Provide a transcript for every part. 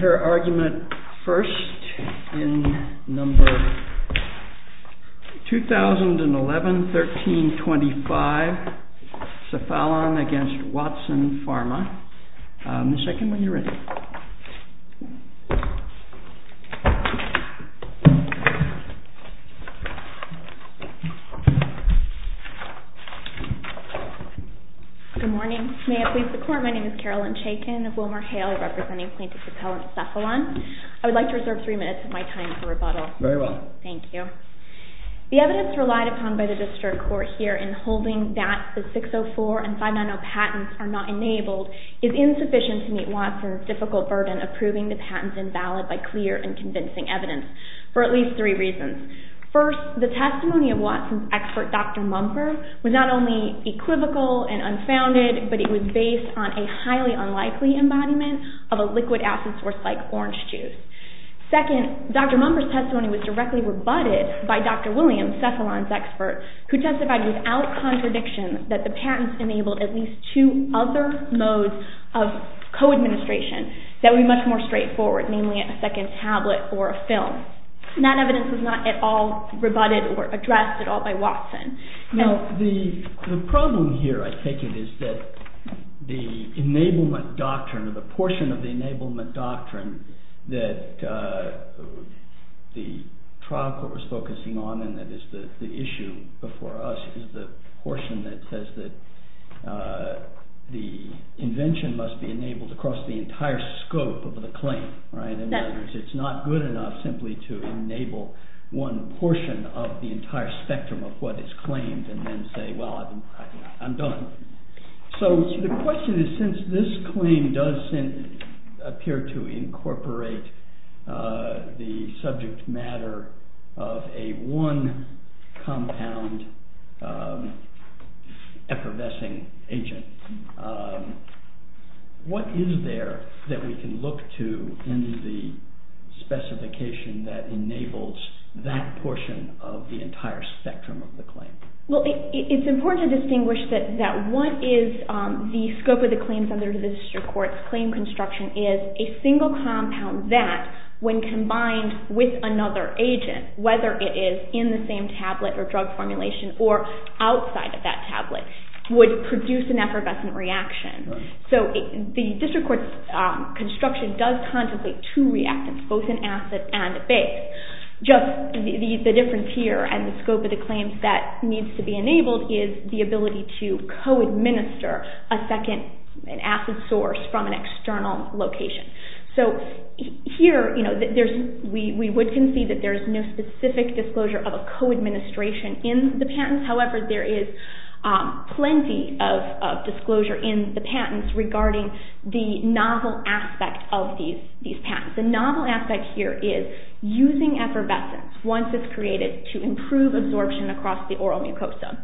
Her argument first, in number 2011-1325, CEPHALON v. WATSON PHARMA. Ms. Chaikin, when you're ready. Good morning. May it please the Court, my name is Carolyn Chaikin of WilmerHale representing plaintiff's appellant CEPHALON. I would like to reserve three minutes of my time for rebuttal. Very well. Thank you. The evidence relied upon by the district court here in holding that the 604 and 590 patents are not enabled is insufficient to meet Watson's difficult burden of proving the patents invalid by clear and convincing evidence for at least three reasons. First, the testimony of Watson's expert Dr. Mumper was not only equivocal and unfounded, but it was based on a highly unlikely embodiment of a liquid acid source like orange juice. Second, Dr. Mumper's testimony was directly rebutted by Dr. Williams, CEPHALON's expert, who testified without contradiction that the patents enabled at least two other modes of co-administration that would be much more straightforward, namely a second tablet or a film. That evidence was not at all rebutted or addressed at all by Watson. Now, the problem here, I take it, is that the enablement doctrine or the portion of the enablement doctrine that the trial court was focusing on, and that is the issue before us, is the portion that says that the invention must be enabled across the entire scope of the claim. It's not good enough simply to enable one portion of the entire spectrum of what is claimed and then say, well, I'm done. So the question is, since this claim does appear to incorporate the subject matter of a one-compound effervescing agent, what is there that we can look to in the specification that enables that portion of the entire spectrum of the claim? Well, it's important to distinguish that what is the scope of the claims under the district court's claim construction is a single compound that, when combined with another agent, whether it is in the same tablet or drug formulation or outside of that tablet, would produce an effervescent reaction. So the district court's construction does contemplate two reactants, both an acid and a base. Just the difference here and the scope of the claims that needs to be enabled is the ability to co-administer an acid source from an external location. So here, we would concede that there is no specific disclosure of a co-administration in the patents. However, there is plenty of disclosure in the patents regarding the novel aspect of these patents. The novel aspect here is using effervescence, once it's created, to improve absorption across the oral mucosa.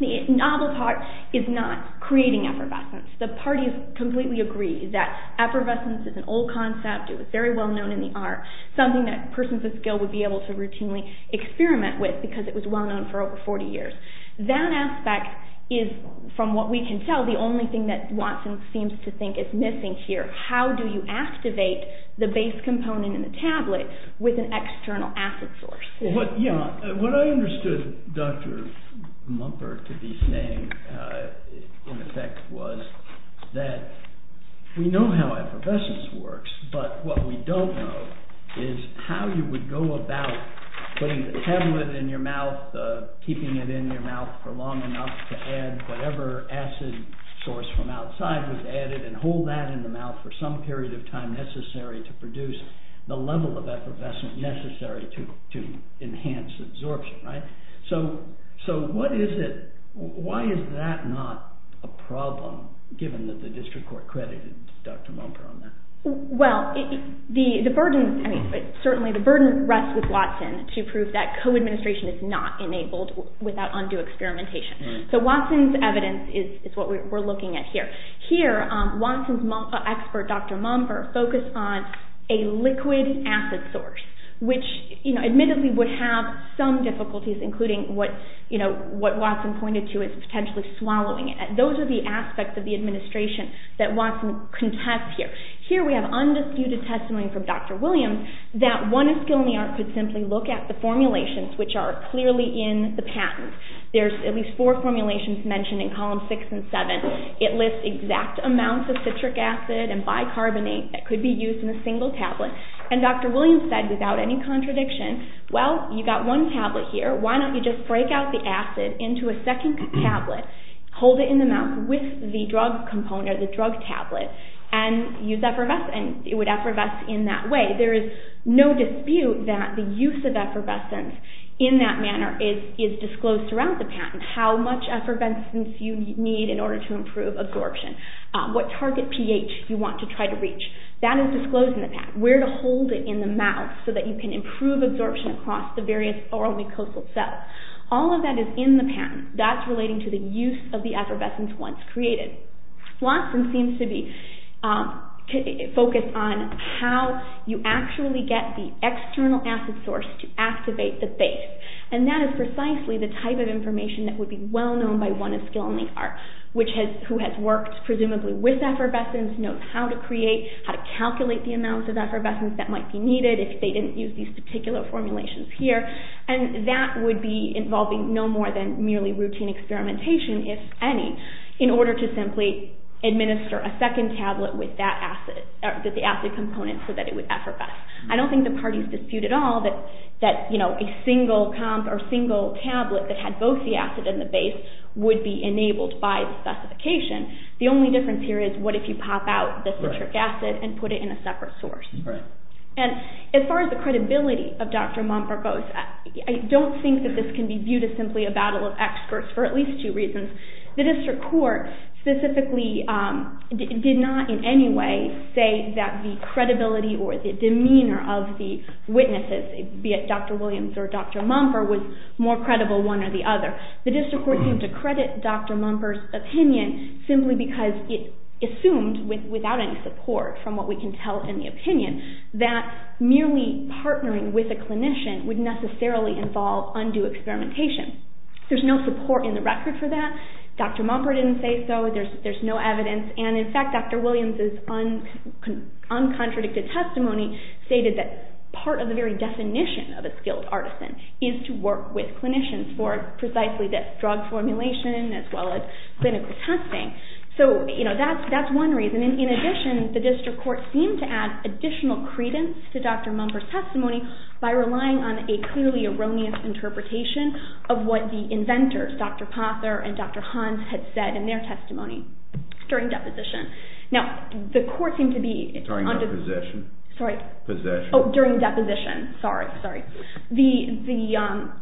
The novel part is not creating effervescence. The parties completely agree that effervescence is an old concept. It was very well known in the art, something that persons of skill would be able to routinely experiment with because it was well known for over 40 years. That aspect is, from what we can tell, the only thing that Watson seems to think is missing here. How do you activate the base component in the tablet with an external acid source? What I understood Dr. Mumford to be saying, in effect, was that we know how effervescence works, but what we don't know is how you would go about putting the tablet in your mouth, keeping it in your mouth for long enough to add whatever acid source from outside was added and hold that in the mouth for some period of time necessary to produce the level of effervescence necessary to enhance absorption. So why is that not a problem, given that the district court credited Dr. Mumford on that? Well, certainly the burden rests with Watson to prove that co-administration is not enabled without undue experimentation. So Watson's evidence is what we're looking at here. Here, Watson's expert, Dr. Mumford, focused on a liquid acid source, which admittedly would have some difficulties, including what Watson pointed to as potentially swallowing it. Those are the aspects of the administration that Watson contests here. Here we have undisputed testimony from Dr. Williams that one in skill in the art could simply look at the formulations, which are clearly in the patent. There's at least four formulations mentioned in columns six and seven. It lists exact amounts of citric acid and bicarbonate that could be used in a single tablet. And Dr. Williams said, without any contradiction, well, you've got one tablet here. Why don't you just break out the acid into a second tablet, hold it in the mouth with the drug component, the drug tablet, and use effervescence? It would effervesce in that way. There is no dispute that the use of effervescence in that manner is disclosed throughout the patent, how much effervescence you need in order to improve absorption, what target pH you want to try to reach. That is disclosed in the patent. Where to hold it in the mouth so that you can improve absorption across the various oral mucosal cells. All of that is in the patent. That's relating to the use of the effervescence once created. Watson seems to be focused on how you actually get the external acid source to activate the base. And that is precisely the type of information that would be well-known by one of skill in the art, who has worked presumably with effervescence, knows how to create, how to calculate the amounts of effervescence that might be needed if they didn't use these particular formulations here. And that would be involving no more than merely routine experimentation, if any, in order to simply administer a second tablet with the acid component so that it would effervesce. I don't think the parties dispute at all that a single comp or a single tablet that had both the acid and the base would be enabled by the specification. The only difference here is what if you pop out the citric acid and put it in a separate source. And as far as the credibility of Dr. Mumper goes, I don't think that this can be viewed as simply a battle of experts for at least two reasons. The district court specifically did not in any way say that the credibility or the demeanor of the witnesses, be it Dr. Williams or Dr. Mumper, was more credible one or the other. The district court seemed to credit Dr. Mumper's opinion simply because it assumed without any support from what we can tell in the opinion that merely partnering with a clinician would necessarily involve undue experimentation. There's no support in the record for that. Dr. Mumper didn't say so. There's no evidence. And in fact, Dr. Williams' uncontradicted testimony stated that part of the very definition of a skilled artisan is to work with clinicians for precisely this drug formulation as well as clinical testing. So that's one reason. In addition, the district court seemed to add additional credence to Dr. Mumper's testimony by relying on a clearly erroneous interpretation of what the inventors, Dr. Pother and Dr. Hans, had said in their testimony during deposition. Now, the court seemed to be— During deposition. Sorry? Possession. Oh, during deposition. Sorry, sorry. The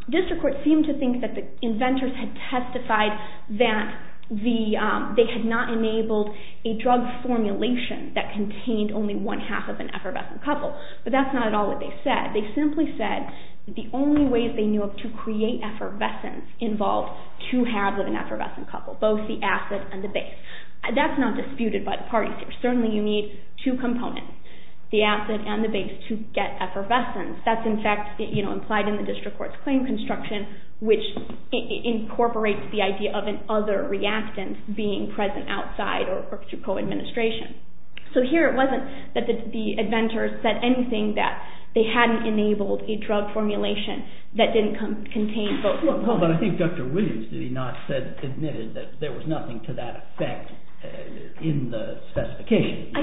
district court seemed to think that the inventors had testified that they had not enabled a drug formulation that contained only one half of an effervescent couple. But that's not at all what they said. They simply said that the only ways they knew of to create effervescence involved two halves of an effervescent couple, both the acid and the base. That's not disputed by the parties here. Certainly you need two components, the acid and the base, to get effervescence. That's, in fact, implied in the district court's claim construction, which incorporates the idea of an other reactant being present outside or through co-administration. So here it wasn't that the inventors said anything that they hadn't enabled a drug formulation that didn't contain both. Well, but I think Dr. Williams, did he not admit that there was nothing to that effect in the specification,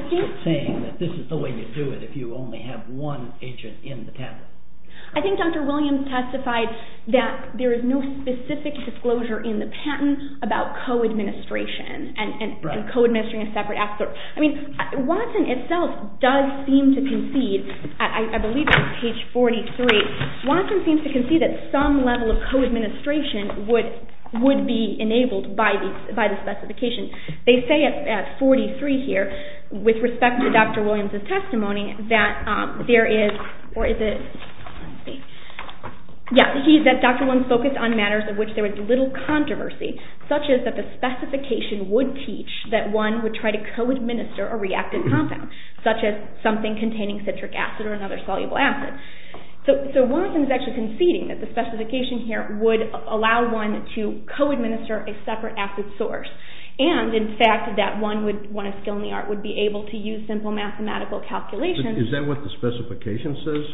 saying that this is the way you do it if you only have one agent in the patent? I think Dr. Williams testified that there is no specific disclosure in the patent about co-administration and co-administering a separate acid. I mean, Watson itself does seem to concede, I believe it's page 43, Watson seems to concede that some level of co-administration would be enabled by the specification. They say at 43 here, with respect to Dr. Williams' testimony, that there is, or is it, yeah, he said Dr. Williams focused on matters of which there was little controversy, such as that the specification would teach that one would try to co-administer a reactive compound, such as something containing citric acid or another soluble acid. So Watson is actually conceding that the specification here would allow one to co-administer a separate acid source, and in fact that one would, one of skill in the art, would be able to use simple mathematical calculations. Is that what the specification says?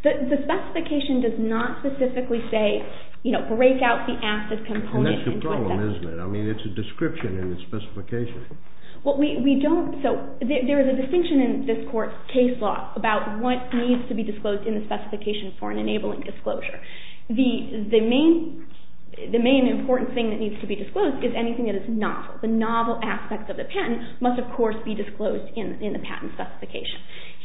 The specification does not specifically say, you know, break out the acid component. And that's the problem, isn't it? I mean, it's a description in the specification. Well, we don't, so there is a distinction in this court's case law about what needs to be disclosed in the specification for an enabling disclosure. The main important thing that needs to be disclosed is anything that is novel. The novel aspect of the patent must, of course, be disclosed in the patent specification.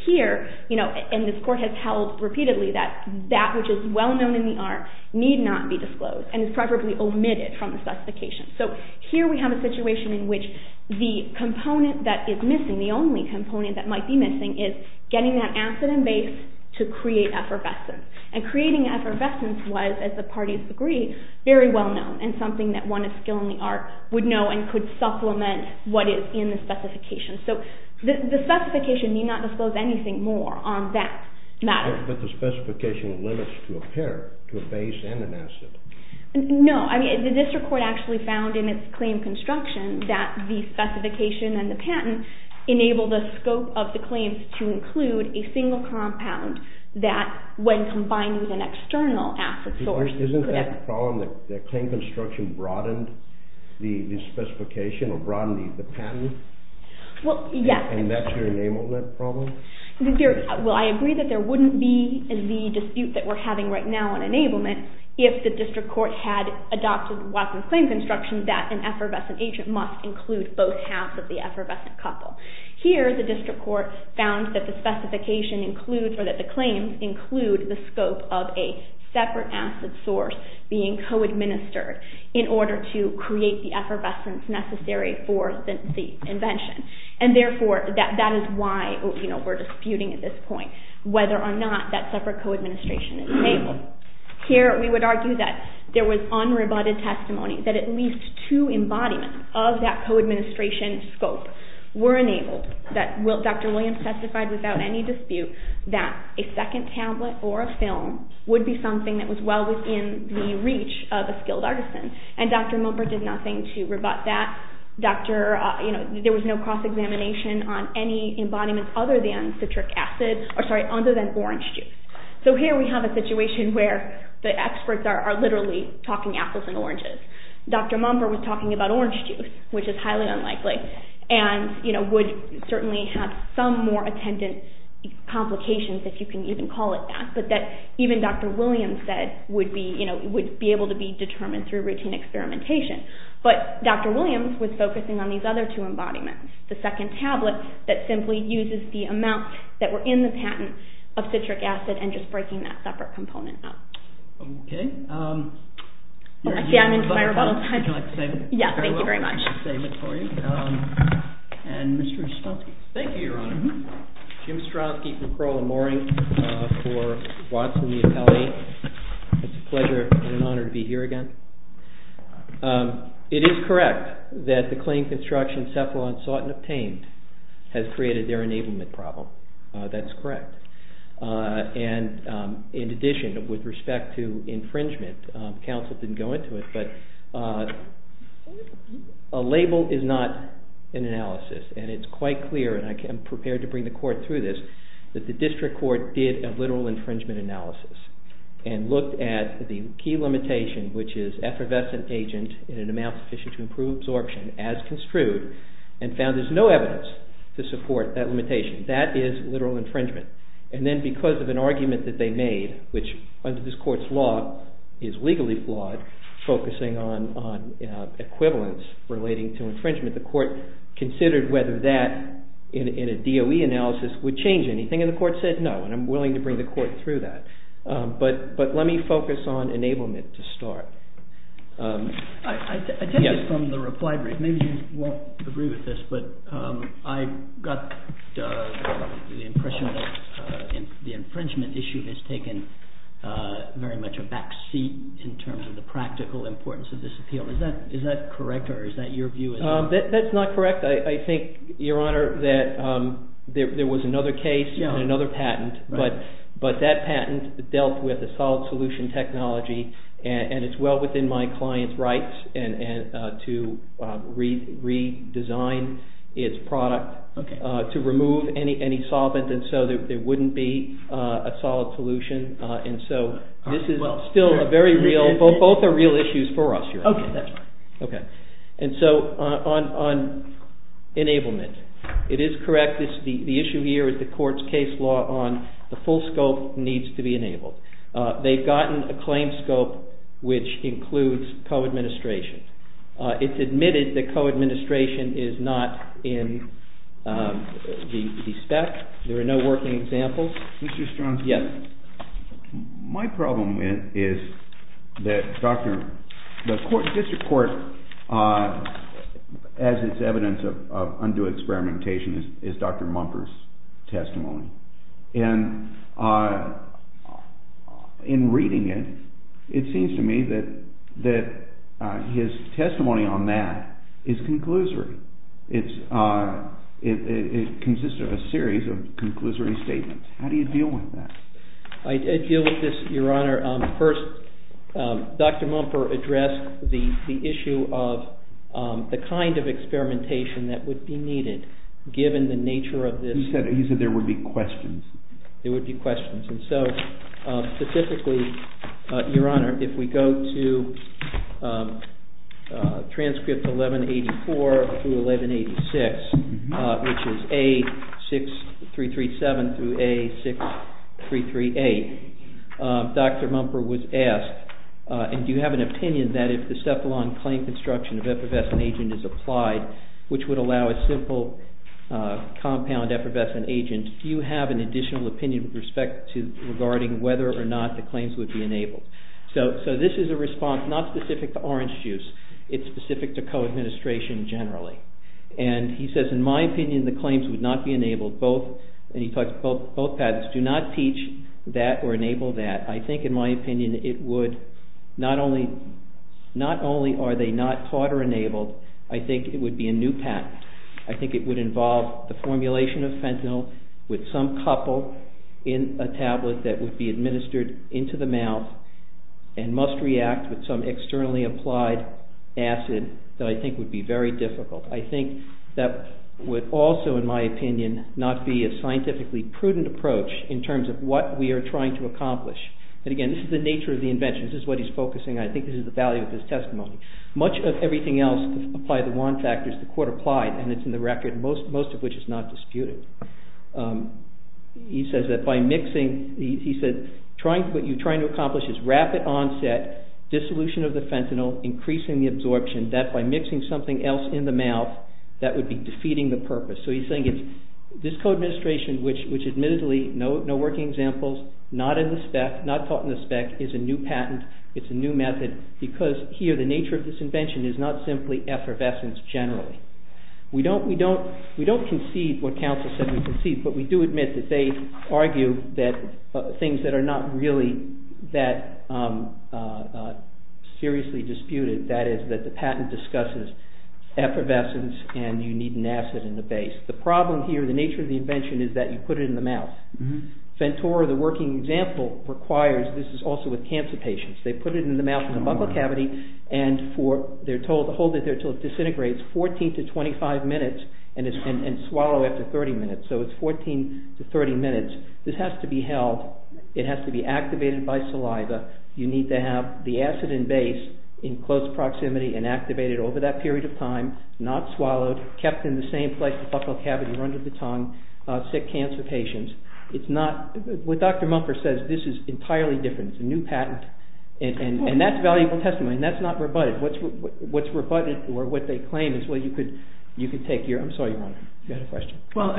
Here, you know, and this court has held repeatedly that that which is well known in the art need not be disclosed and is preferably omitted from the specification. So here we have a situation in which the component that is missing, the only component that might be missing, is getting that acid and base to create effervescence. And creating effervescence was, as the parties agree, very well known and something that one of skill in the art would know and could supplement what is in the specification. So the specification need not disclose anything more on that matter. But the specification limits to a pair, to a base and an acid. No, I mean, the district court actually found in its claim construction that the specification and the patent enable the scope of the claims to include a single compound that when combined with an external acid source could have... Isn't that the problem that the claim construction broadened the specification or broadened the patent? Well, yes. And that's your enablement problem? Well, I agree that there wouldn't be the dispute that we're having right now on enablement if the district court had adopted Watson's claims construction that an effervescent agent must include both halves of the effervescent couple. Here, the district court found that the specification includes, or that the claims include, the scope of a separate acid source being co-administered in order to create the effervescence necessary for the invention. And therefore, that is why we're disputing at this point whether or not that separate co-administration is enabled. Here, we would argue that there was unrebutted testimony that at least two embodiments of that co-administration scope were enabled. Dr. Williams testified without any dispute that a second tablet or a film would be something that was well within the reach of a skilled artisan. And Dr. Mumper did nothing to rebut that. There was no cross-examination on any embodiments other than orange juice. So here we have a situation where the experts are literally talking apples and oranges. Dr. Mumper was talking about orange juice, which is highly unlikely, and would certainly have some more attendant complications, if you can even call it that. But that even Dr. Williams said would be able to be determined through routine experimentation. But Dr. Williams was focusing on these other two embodiments, the second tablet that simply uses the amount that were in the patent of citric acid and just breaking that separate component up. Okay. I see I'm into my rebuttal time. Would you like to save it? Yes, thank you very much. I will save it for you. And Mr. Ostrowski. Thank you, Your Honor. Jim Ostrowski from Crowell & Mooring for Watson, the appellee. It's a pleasure and an honor to be here again. It is correct that the claim construction Cephalon sought and obtained has created their enablement problem. That's correct. And in addition, with respect to infringement, counsel didn't go into it, but a label is not an analysis, and it's quite clear, and I am prepared to bring the court through this, that the district court did a literal infringement analysis and looked at the key limitation, which is effervescent agent in an amount sufficient to improve absorption as construed and found there's no evidence to support that limitation. That is literal infringement. And then because of an argument that they made, which under this court's law is legally flawed, focusing on equivalence relating to infringement, the court considered whether that in a DOE analysis would change anything, and the court said no, and I'm willing to bring the court through that. But let me focus on enablement to start. I take this from the reply brief. Maybe you won't agree with this, but I got the impression that the infringement issue has taken very much a back seat in terms of the practical importance of this appeal. Is that correct, or is that your view? That's not correct. I think, Your Honor, that there was another case and another patent, but that patent dealt with a solid solution technology, and it's well within my client's rights to redesign its product, to remove any solvent, and so there wouldn't be a solid solution. And so this is still a very real, both are real issues for us, Your Honor. Okay, that's fine. Okay. And so on enablement, it is correct. The issue here is the court's case law on the full scope needs to be enabled. They've gotten a claim scope which includes co-administration. It's admitted that co-administration is not in the spec. There are no working examples. Mr. Strong? Yes. My problem is that the district court, as it's evidence of undue experimentation, is Dr. Mumper's testimony. And in reading it, it seems to me that his testimony on that is conclusory. It consists of a series of conclusory statements. How do you deal with that? I deal with this, Your Honor. First, Dr. Mumper addressed the issue of the kind of experimentation that would be needed given the nature of this. He said there would be questions. There would be questions. And so specifically, Your Honor, if we go to transcript 1184 through 1186, which is A6337 through A6338, Dr. Mumper was asked, and do you have an opinion that if the Cephalon claim construction of effervescent agent is applied, which would allow a simple compound effervescent agent, do you have an additional opinion with respect to regarding whether or not the claims would be enabled? So this is a response not specific to orange juice. It's specific to co-administration generally. And he says, in my opinion, the claims would not be enabled. And he talks about both patents. Do not teach that or enable that. I think, in my opinion, not only are they not taught or enabled, I think it would be a new patent. I think it would involve the formulation of fentanyl with some couple in a tablet that would be administered into the mouth and must react with some externally applied acid that I think would be very difficult. I think that would also, in my opinion, not be a scientifically prudent approach in terms of what we are trying to accomplish. And again, this is the nature of the invention. This is what he's focusing on. I think this is the value of his testimony. Much of everything else applied to wand factors, the court applied, and it's in the record, most of which is not disputed. He says that by mixing, he said, what you're trying to accomplish is rapid onset, dissolution of the fentanyl, increasing the absorption, that by mixing something else in the mouth, that would be defeating the purpose. So he's saying it's this co-administration, which admittedly, no working examples, not in the spec, not taught in the spec, is a new patent, it's a new method, because here the nature of this invention is not simply effervescence generally. We don't concede what counsel said we concede, but we do admit that they argue that things that are not really that seriously disputed, that is that the patent discusses effervescence and you need an acid in the base. The problem here, the nature of the invention, is that you put it in the mouth. Ventura, the working example, requires, this is also with cancer patients, they put it in the mouth of the buccal cavity and they're told to hold it there until it disintegrates, 14 to 25 minutes, and swallow after 30 minutes. So it's 14 to 30 minutes. This has to be held. It has to be activated by saliva. You need to have the acid in base in close proximity and activated over that period of time, not swallowed, kept in the same place, the buccal cavity under the tongue, sick cancer patients. It's not, what Dr. Mumford says, this is entirely different. It's a new patent, and that's valuable testimony, and that's not rebutted. What's rebutted or what they claim is what you could take here. I'm sorry, Your Honor, you had a question. Well,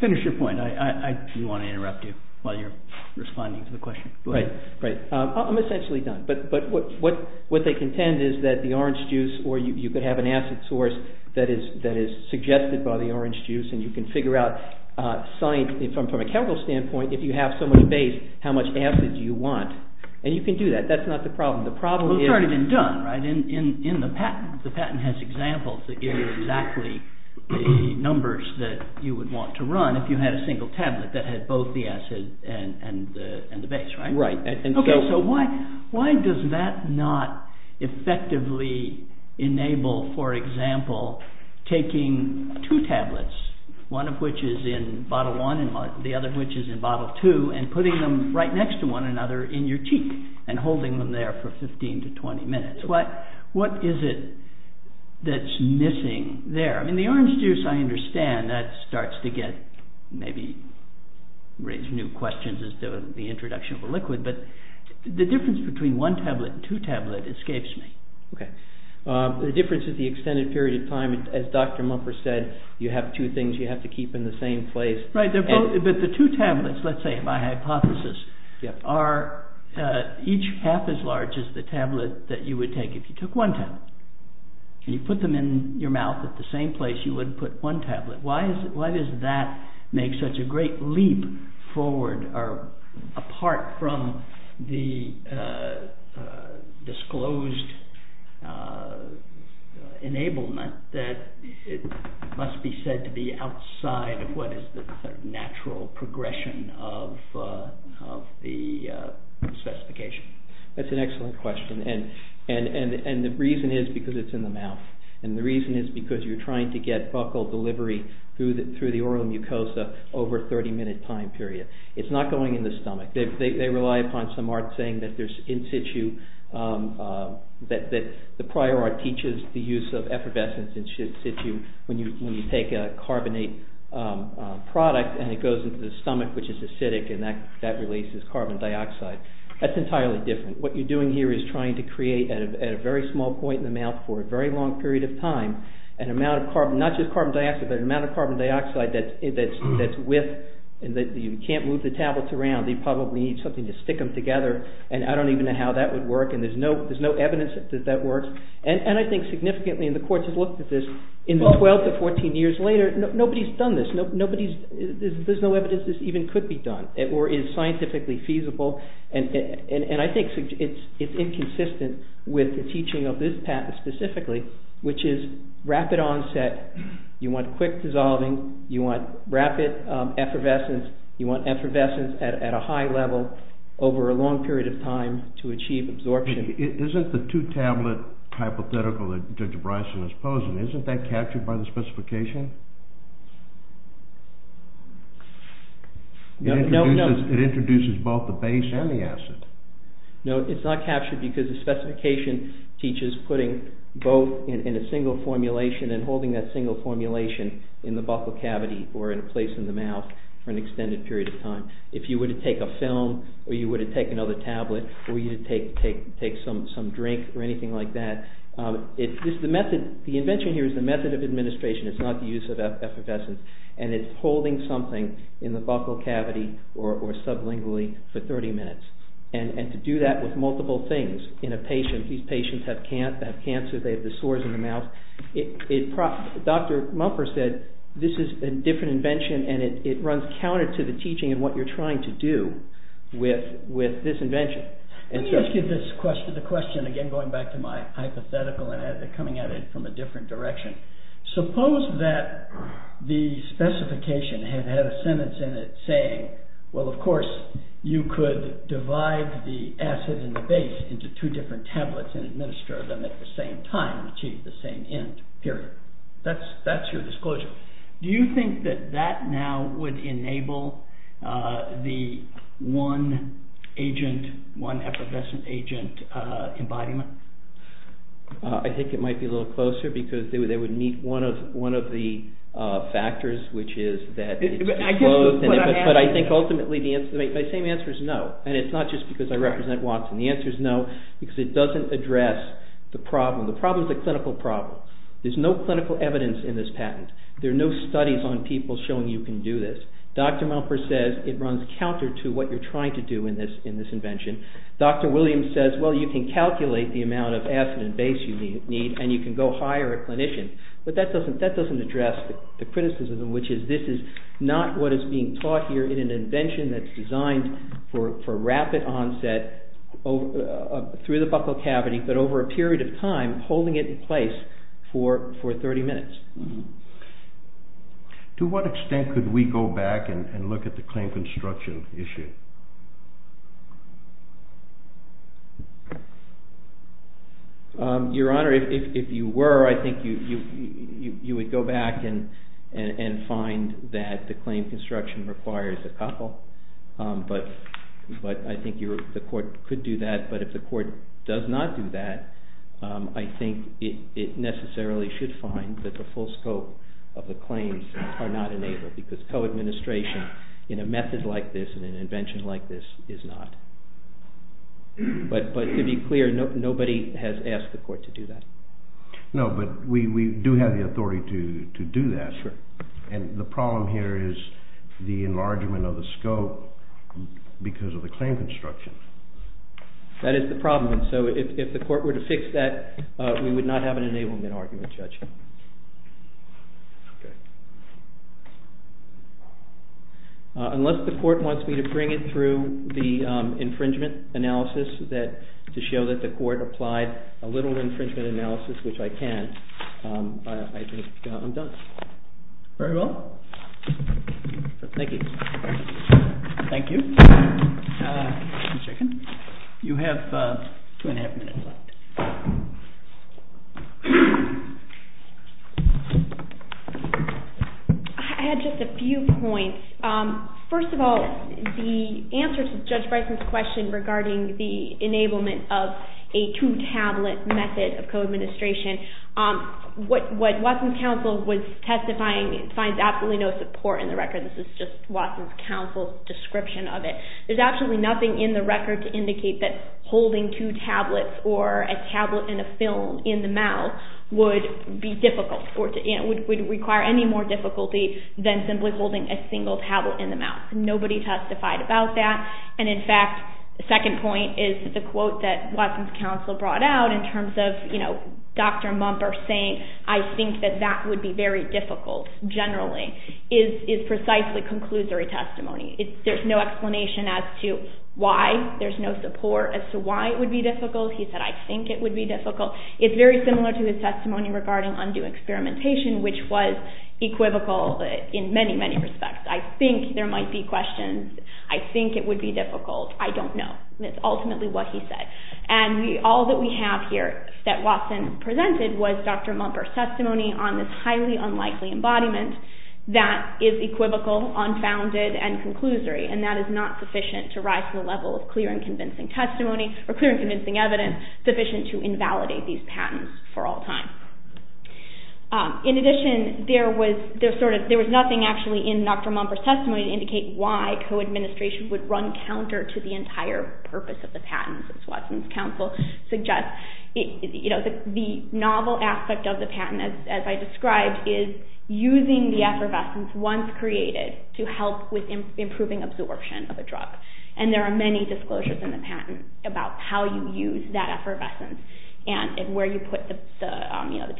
finish your point. I didn't want to interrupt you while you're responding to the question. Right, right. I'm essentially done. But what they contend is that the orange juice, or you could have an acid source that is suggested by the orange juice and you can figure out, from a chemical standpoint, if you have so much base, how much acid do you want? And you can do that. That's not the problem. Well, it's already been done, right, in the patent. The patent has examples that give you exactly the numbers that you would want to run if you had a single tablet that had both the acid and the base, right? Right. OK, so why does that not effectively enable, for example, taking two tablets, one of which is in bottle one and the other of which is in bottle two, and putting them right next to one another in your cheek and holding them there for 15 to 20 minutes? What is it that's missing there? I mean, the orange juice, I understand, that starts to get, maybe raise new questions as to the introduction of a liquid, but the difference between one tablet and two tablets escapes me. OK. The difference is the extended period of time. As Dr. Mumper said, you have two things you have to keep in the same place. Right, but the two tablets, let's say, by hypothesis, are each half as large as the tablet that you would take if you took one tablet. And you put them in your mouth at the same place you would put one tablet. Why does that make such a great leap forward or apart from the disclosed enablement that it must be said to be outside of what is the natural progression of the specification? That's an excellent question. And the reason is because it's in the mouth. And the reason is because you're trying to get buccal delivery through the oral mucosa over a 30-minute time period. It's not going in the stomach. They rely upon some art saying that there's in situ, that the prior art teaches the use of effervescence in situ when you take a carbonate product and it goes into the stomach, which is acidic, and that releases carbon dioxide. That's entirely different. What you're doing here is trying to create at a very small point in the mouth for a very long period of time an amount of carbon, not just carbon dioxide, but an amount of carbon dioxide that's width and that you can't move the tablets around. They probably need something to stick them together and I don't even know how that would work and there's no evidence that that works. And I think significantly, and the courts have looked at this, in the 12 to 14 years later, nobody's done this. There's no evidence this even could be done or is scientifically feasible. And I think it's inconsistent with the teaching of this patent specifically, which is rapid onset, you want quick dissolving, you want rapid effervescence, you want effervescence at a high level over a long period of time to achieve absorption. Isn't the two-tablet hypothetical that Dr. Bryson is posing, isn't that captured by the specification? It introduces both the base and the acid. No, it's not captured because the specification teaches putting both in a single formulation and holding that single formulation in the buccal cavity or in a place in the mouth for an extended period of time. If you were to take a film, or you were to take another tablet, or you were to take some drink or anything like that, the invention here is the method of administration, it's not the invention. It's the use of effervescence, and it's holding something in the buccal cavity or sublingually for 30 minutes. And to do that with multiple things in a patient, these patients have cancer, they have the sores in the mouth. Dr. Mumford said this is a different invention and it runs counter to the teaching and what you're trying to do with this invention. Let me ask you the question, again going back to my hypothetical and coming at it from a different direction. Suppose that the specification had had a sentence in it saying, well of course you could divide the acid and the base into two different tablets and administer them at the same time and achieve the same end, period. That's your disclosure. Do you think that that now would enable the one effervescent agent embodiment? I think it might be a little closer because they would meet one of the factors which is that it's disclosed. But I think ultimately the same answer is no. And it's not just because I represent Watson. The answer is no because it doesn't address the problem. The problem is a clinical problem. There's no clinical evidence in this patent. There are no studies on people showing you can do this. Dr. Mumford says it runs counter to what you're trying to do in this invention. Dr. Williams says, well you can calculate the amount of acid and base you need and you can go hire a clinician. But that doesn't address the criticism which is this is not what is being taught here in an invention that's designed for rapid onset through the buccal cavity but over a period of time holding it in place for 30 minutes. To what extent could we go back and look at the claim construction issue? Your Honor, if you were, I think you would go back and find that the claim construction requires a couple. But I think the court could do that. But if the court does not do that, I think it necessarily should find that the full scope of the claims are not enabled because co-administration in a method like this in an invention like this is not. But to be clear, nobody has asked the court to do that. No, but we do have the authority to do that. And the problem here is the enlargement of the scope because of the claim construction. That is the problem. So if the court were to fix that, we would not have an enablement argument, Judge. Okay. Unless the court wants me to bring it through the infringement analysis to show that the court applied a little infringement analysis, which I can, I think I'm done. Very well. Thank you. Thank you. You have two and a half minutes left. I had just a few points. First of all, the answer to Judge Bryson's question regarding the enablement of a two-tablet method of co-administration, what Watson's counsel was testifying, it finds absolutely no support in the record. This is just Watson's counsel's description of it. There's absolutely nothing in the record to indicate that holding two tablets or a tablet and a film in the mouth would be difficult, would require any more difficulty than simply holding a single tablet in the mouth. Nobody testified about that. And in fact, the second point is the quote that Watson's counsel brought out in terms of Dr. Mumper saying, I think that that would be very difficult, generally, is precisely conclusory testimony. There's no explanation as to why. There's no support as to why it would be difficult. He said, I think it would be difficult. It's very similar to his testimony regarding undue experimentation, which was equivocal in many, many respects. I think there might be questions. I think it would be difficult. I don't know. That's ultimately what he said. And all that we have here that Watson presented was Dr. Mumper's testimony on this highly unlikely embodiment that is equivocal, unfounded, and conclusory, and that is not sufficient to rise to the level of clear and convincing testimony or clear and convincing evidence sufficient to invalidate these patents for all time. In addition, there was nothing actually in Dr. Mumper's testimony to indicate why co-administration would run counter to the entire purpose of the patents, as Watson's counsel suggests. The novel aspect of the patent, as I described, is using the effervescence once created to help with improving absorption of a drug. And there are many disclosures in the patent about how you use that effervescence and where you put the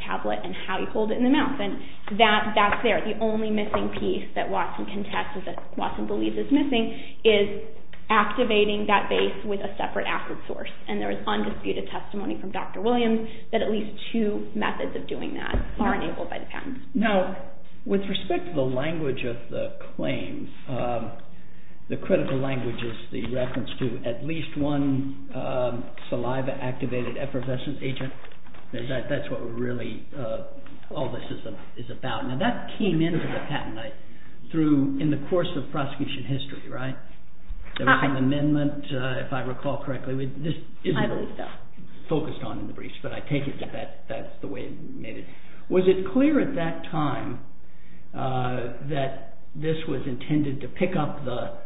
tablet and how you hold it in the mouth. And that's there. The only missing piece that Watson contests or that Watson believes is missing is activating that base with a separate acid source. And there is undisputed testimony from Dr. Williams that at least two methods of doing that are enabled by the patents. Now, with respect to the language of the claim, the critical language is the reference to at least one saliva-activated effervescent agent. That's what really all this is about. Now, that came into the patent in the course of prosecution history, right? There was an amendment, if I recall correctly. This isn't really focused on in the briefs, but I take it that that's the way it made it. Was it clear at that time that this was intended to pick up the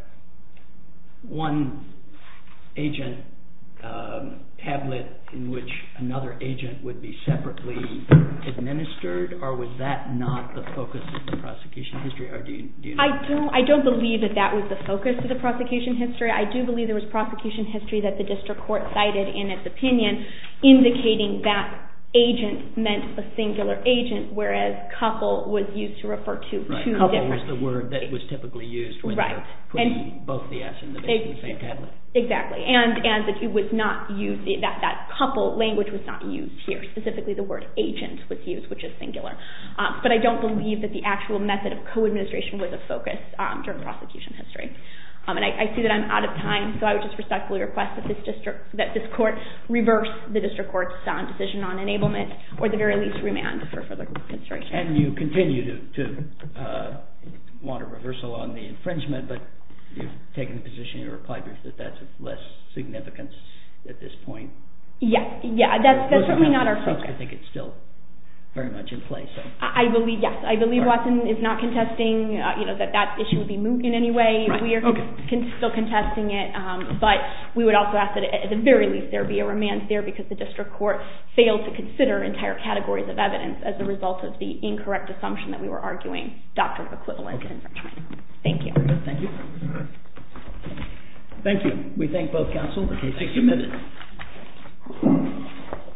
one-agent tablet in which another agent would be separately administered, or was that not the focus of the prosecution history? I don't believe that that was the focus of the prosecution history. I do believe there was prosecution history that the district court cited in its opinion indicating that agent meant a singular agent, whereas couple was used to refer to two different... Right, couple was the word that was typically used when they were putting both the S in the same tablet. Exactly, and that couple language was not used here. Specifically, the word agent was used, which is singular. But I don't believe that the actual method of co-administration was a focus during prosecution history. I see that I'm out of time, so I would just respectfully request that this court reverse the district court's decision on enablement or the very least remand for further consideration. And you continue to want a reversal on the infringement, but you've taken the position in your reply that that's of less significance at this point. Yes, that's certainly not our focus. I think it's still very much in place. Yes, I believe Watson is not contesting that that issue would be moved in any way. We are still contesting it, but we would also ask that at the very least there be a remand there because the district court failed to consider entire categories of evidence as a result of the incorrect assumption that we were arguing Dr. Equivalent infringement. Thank you. Thank you. We thank both counsel. Thank you. Thank you.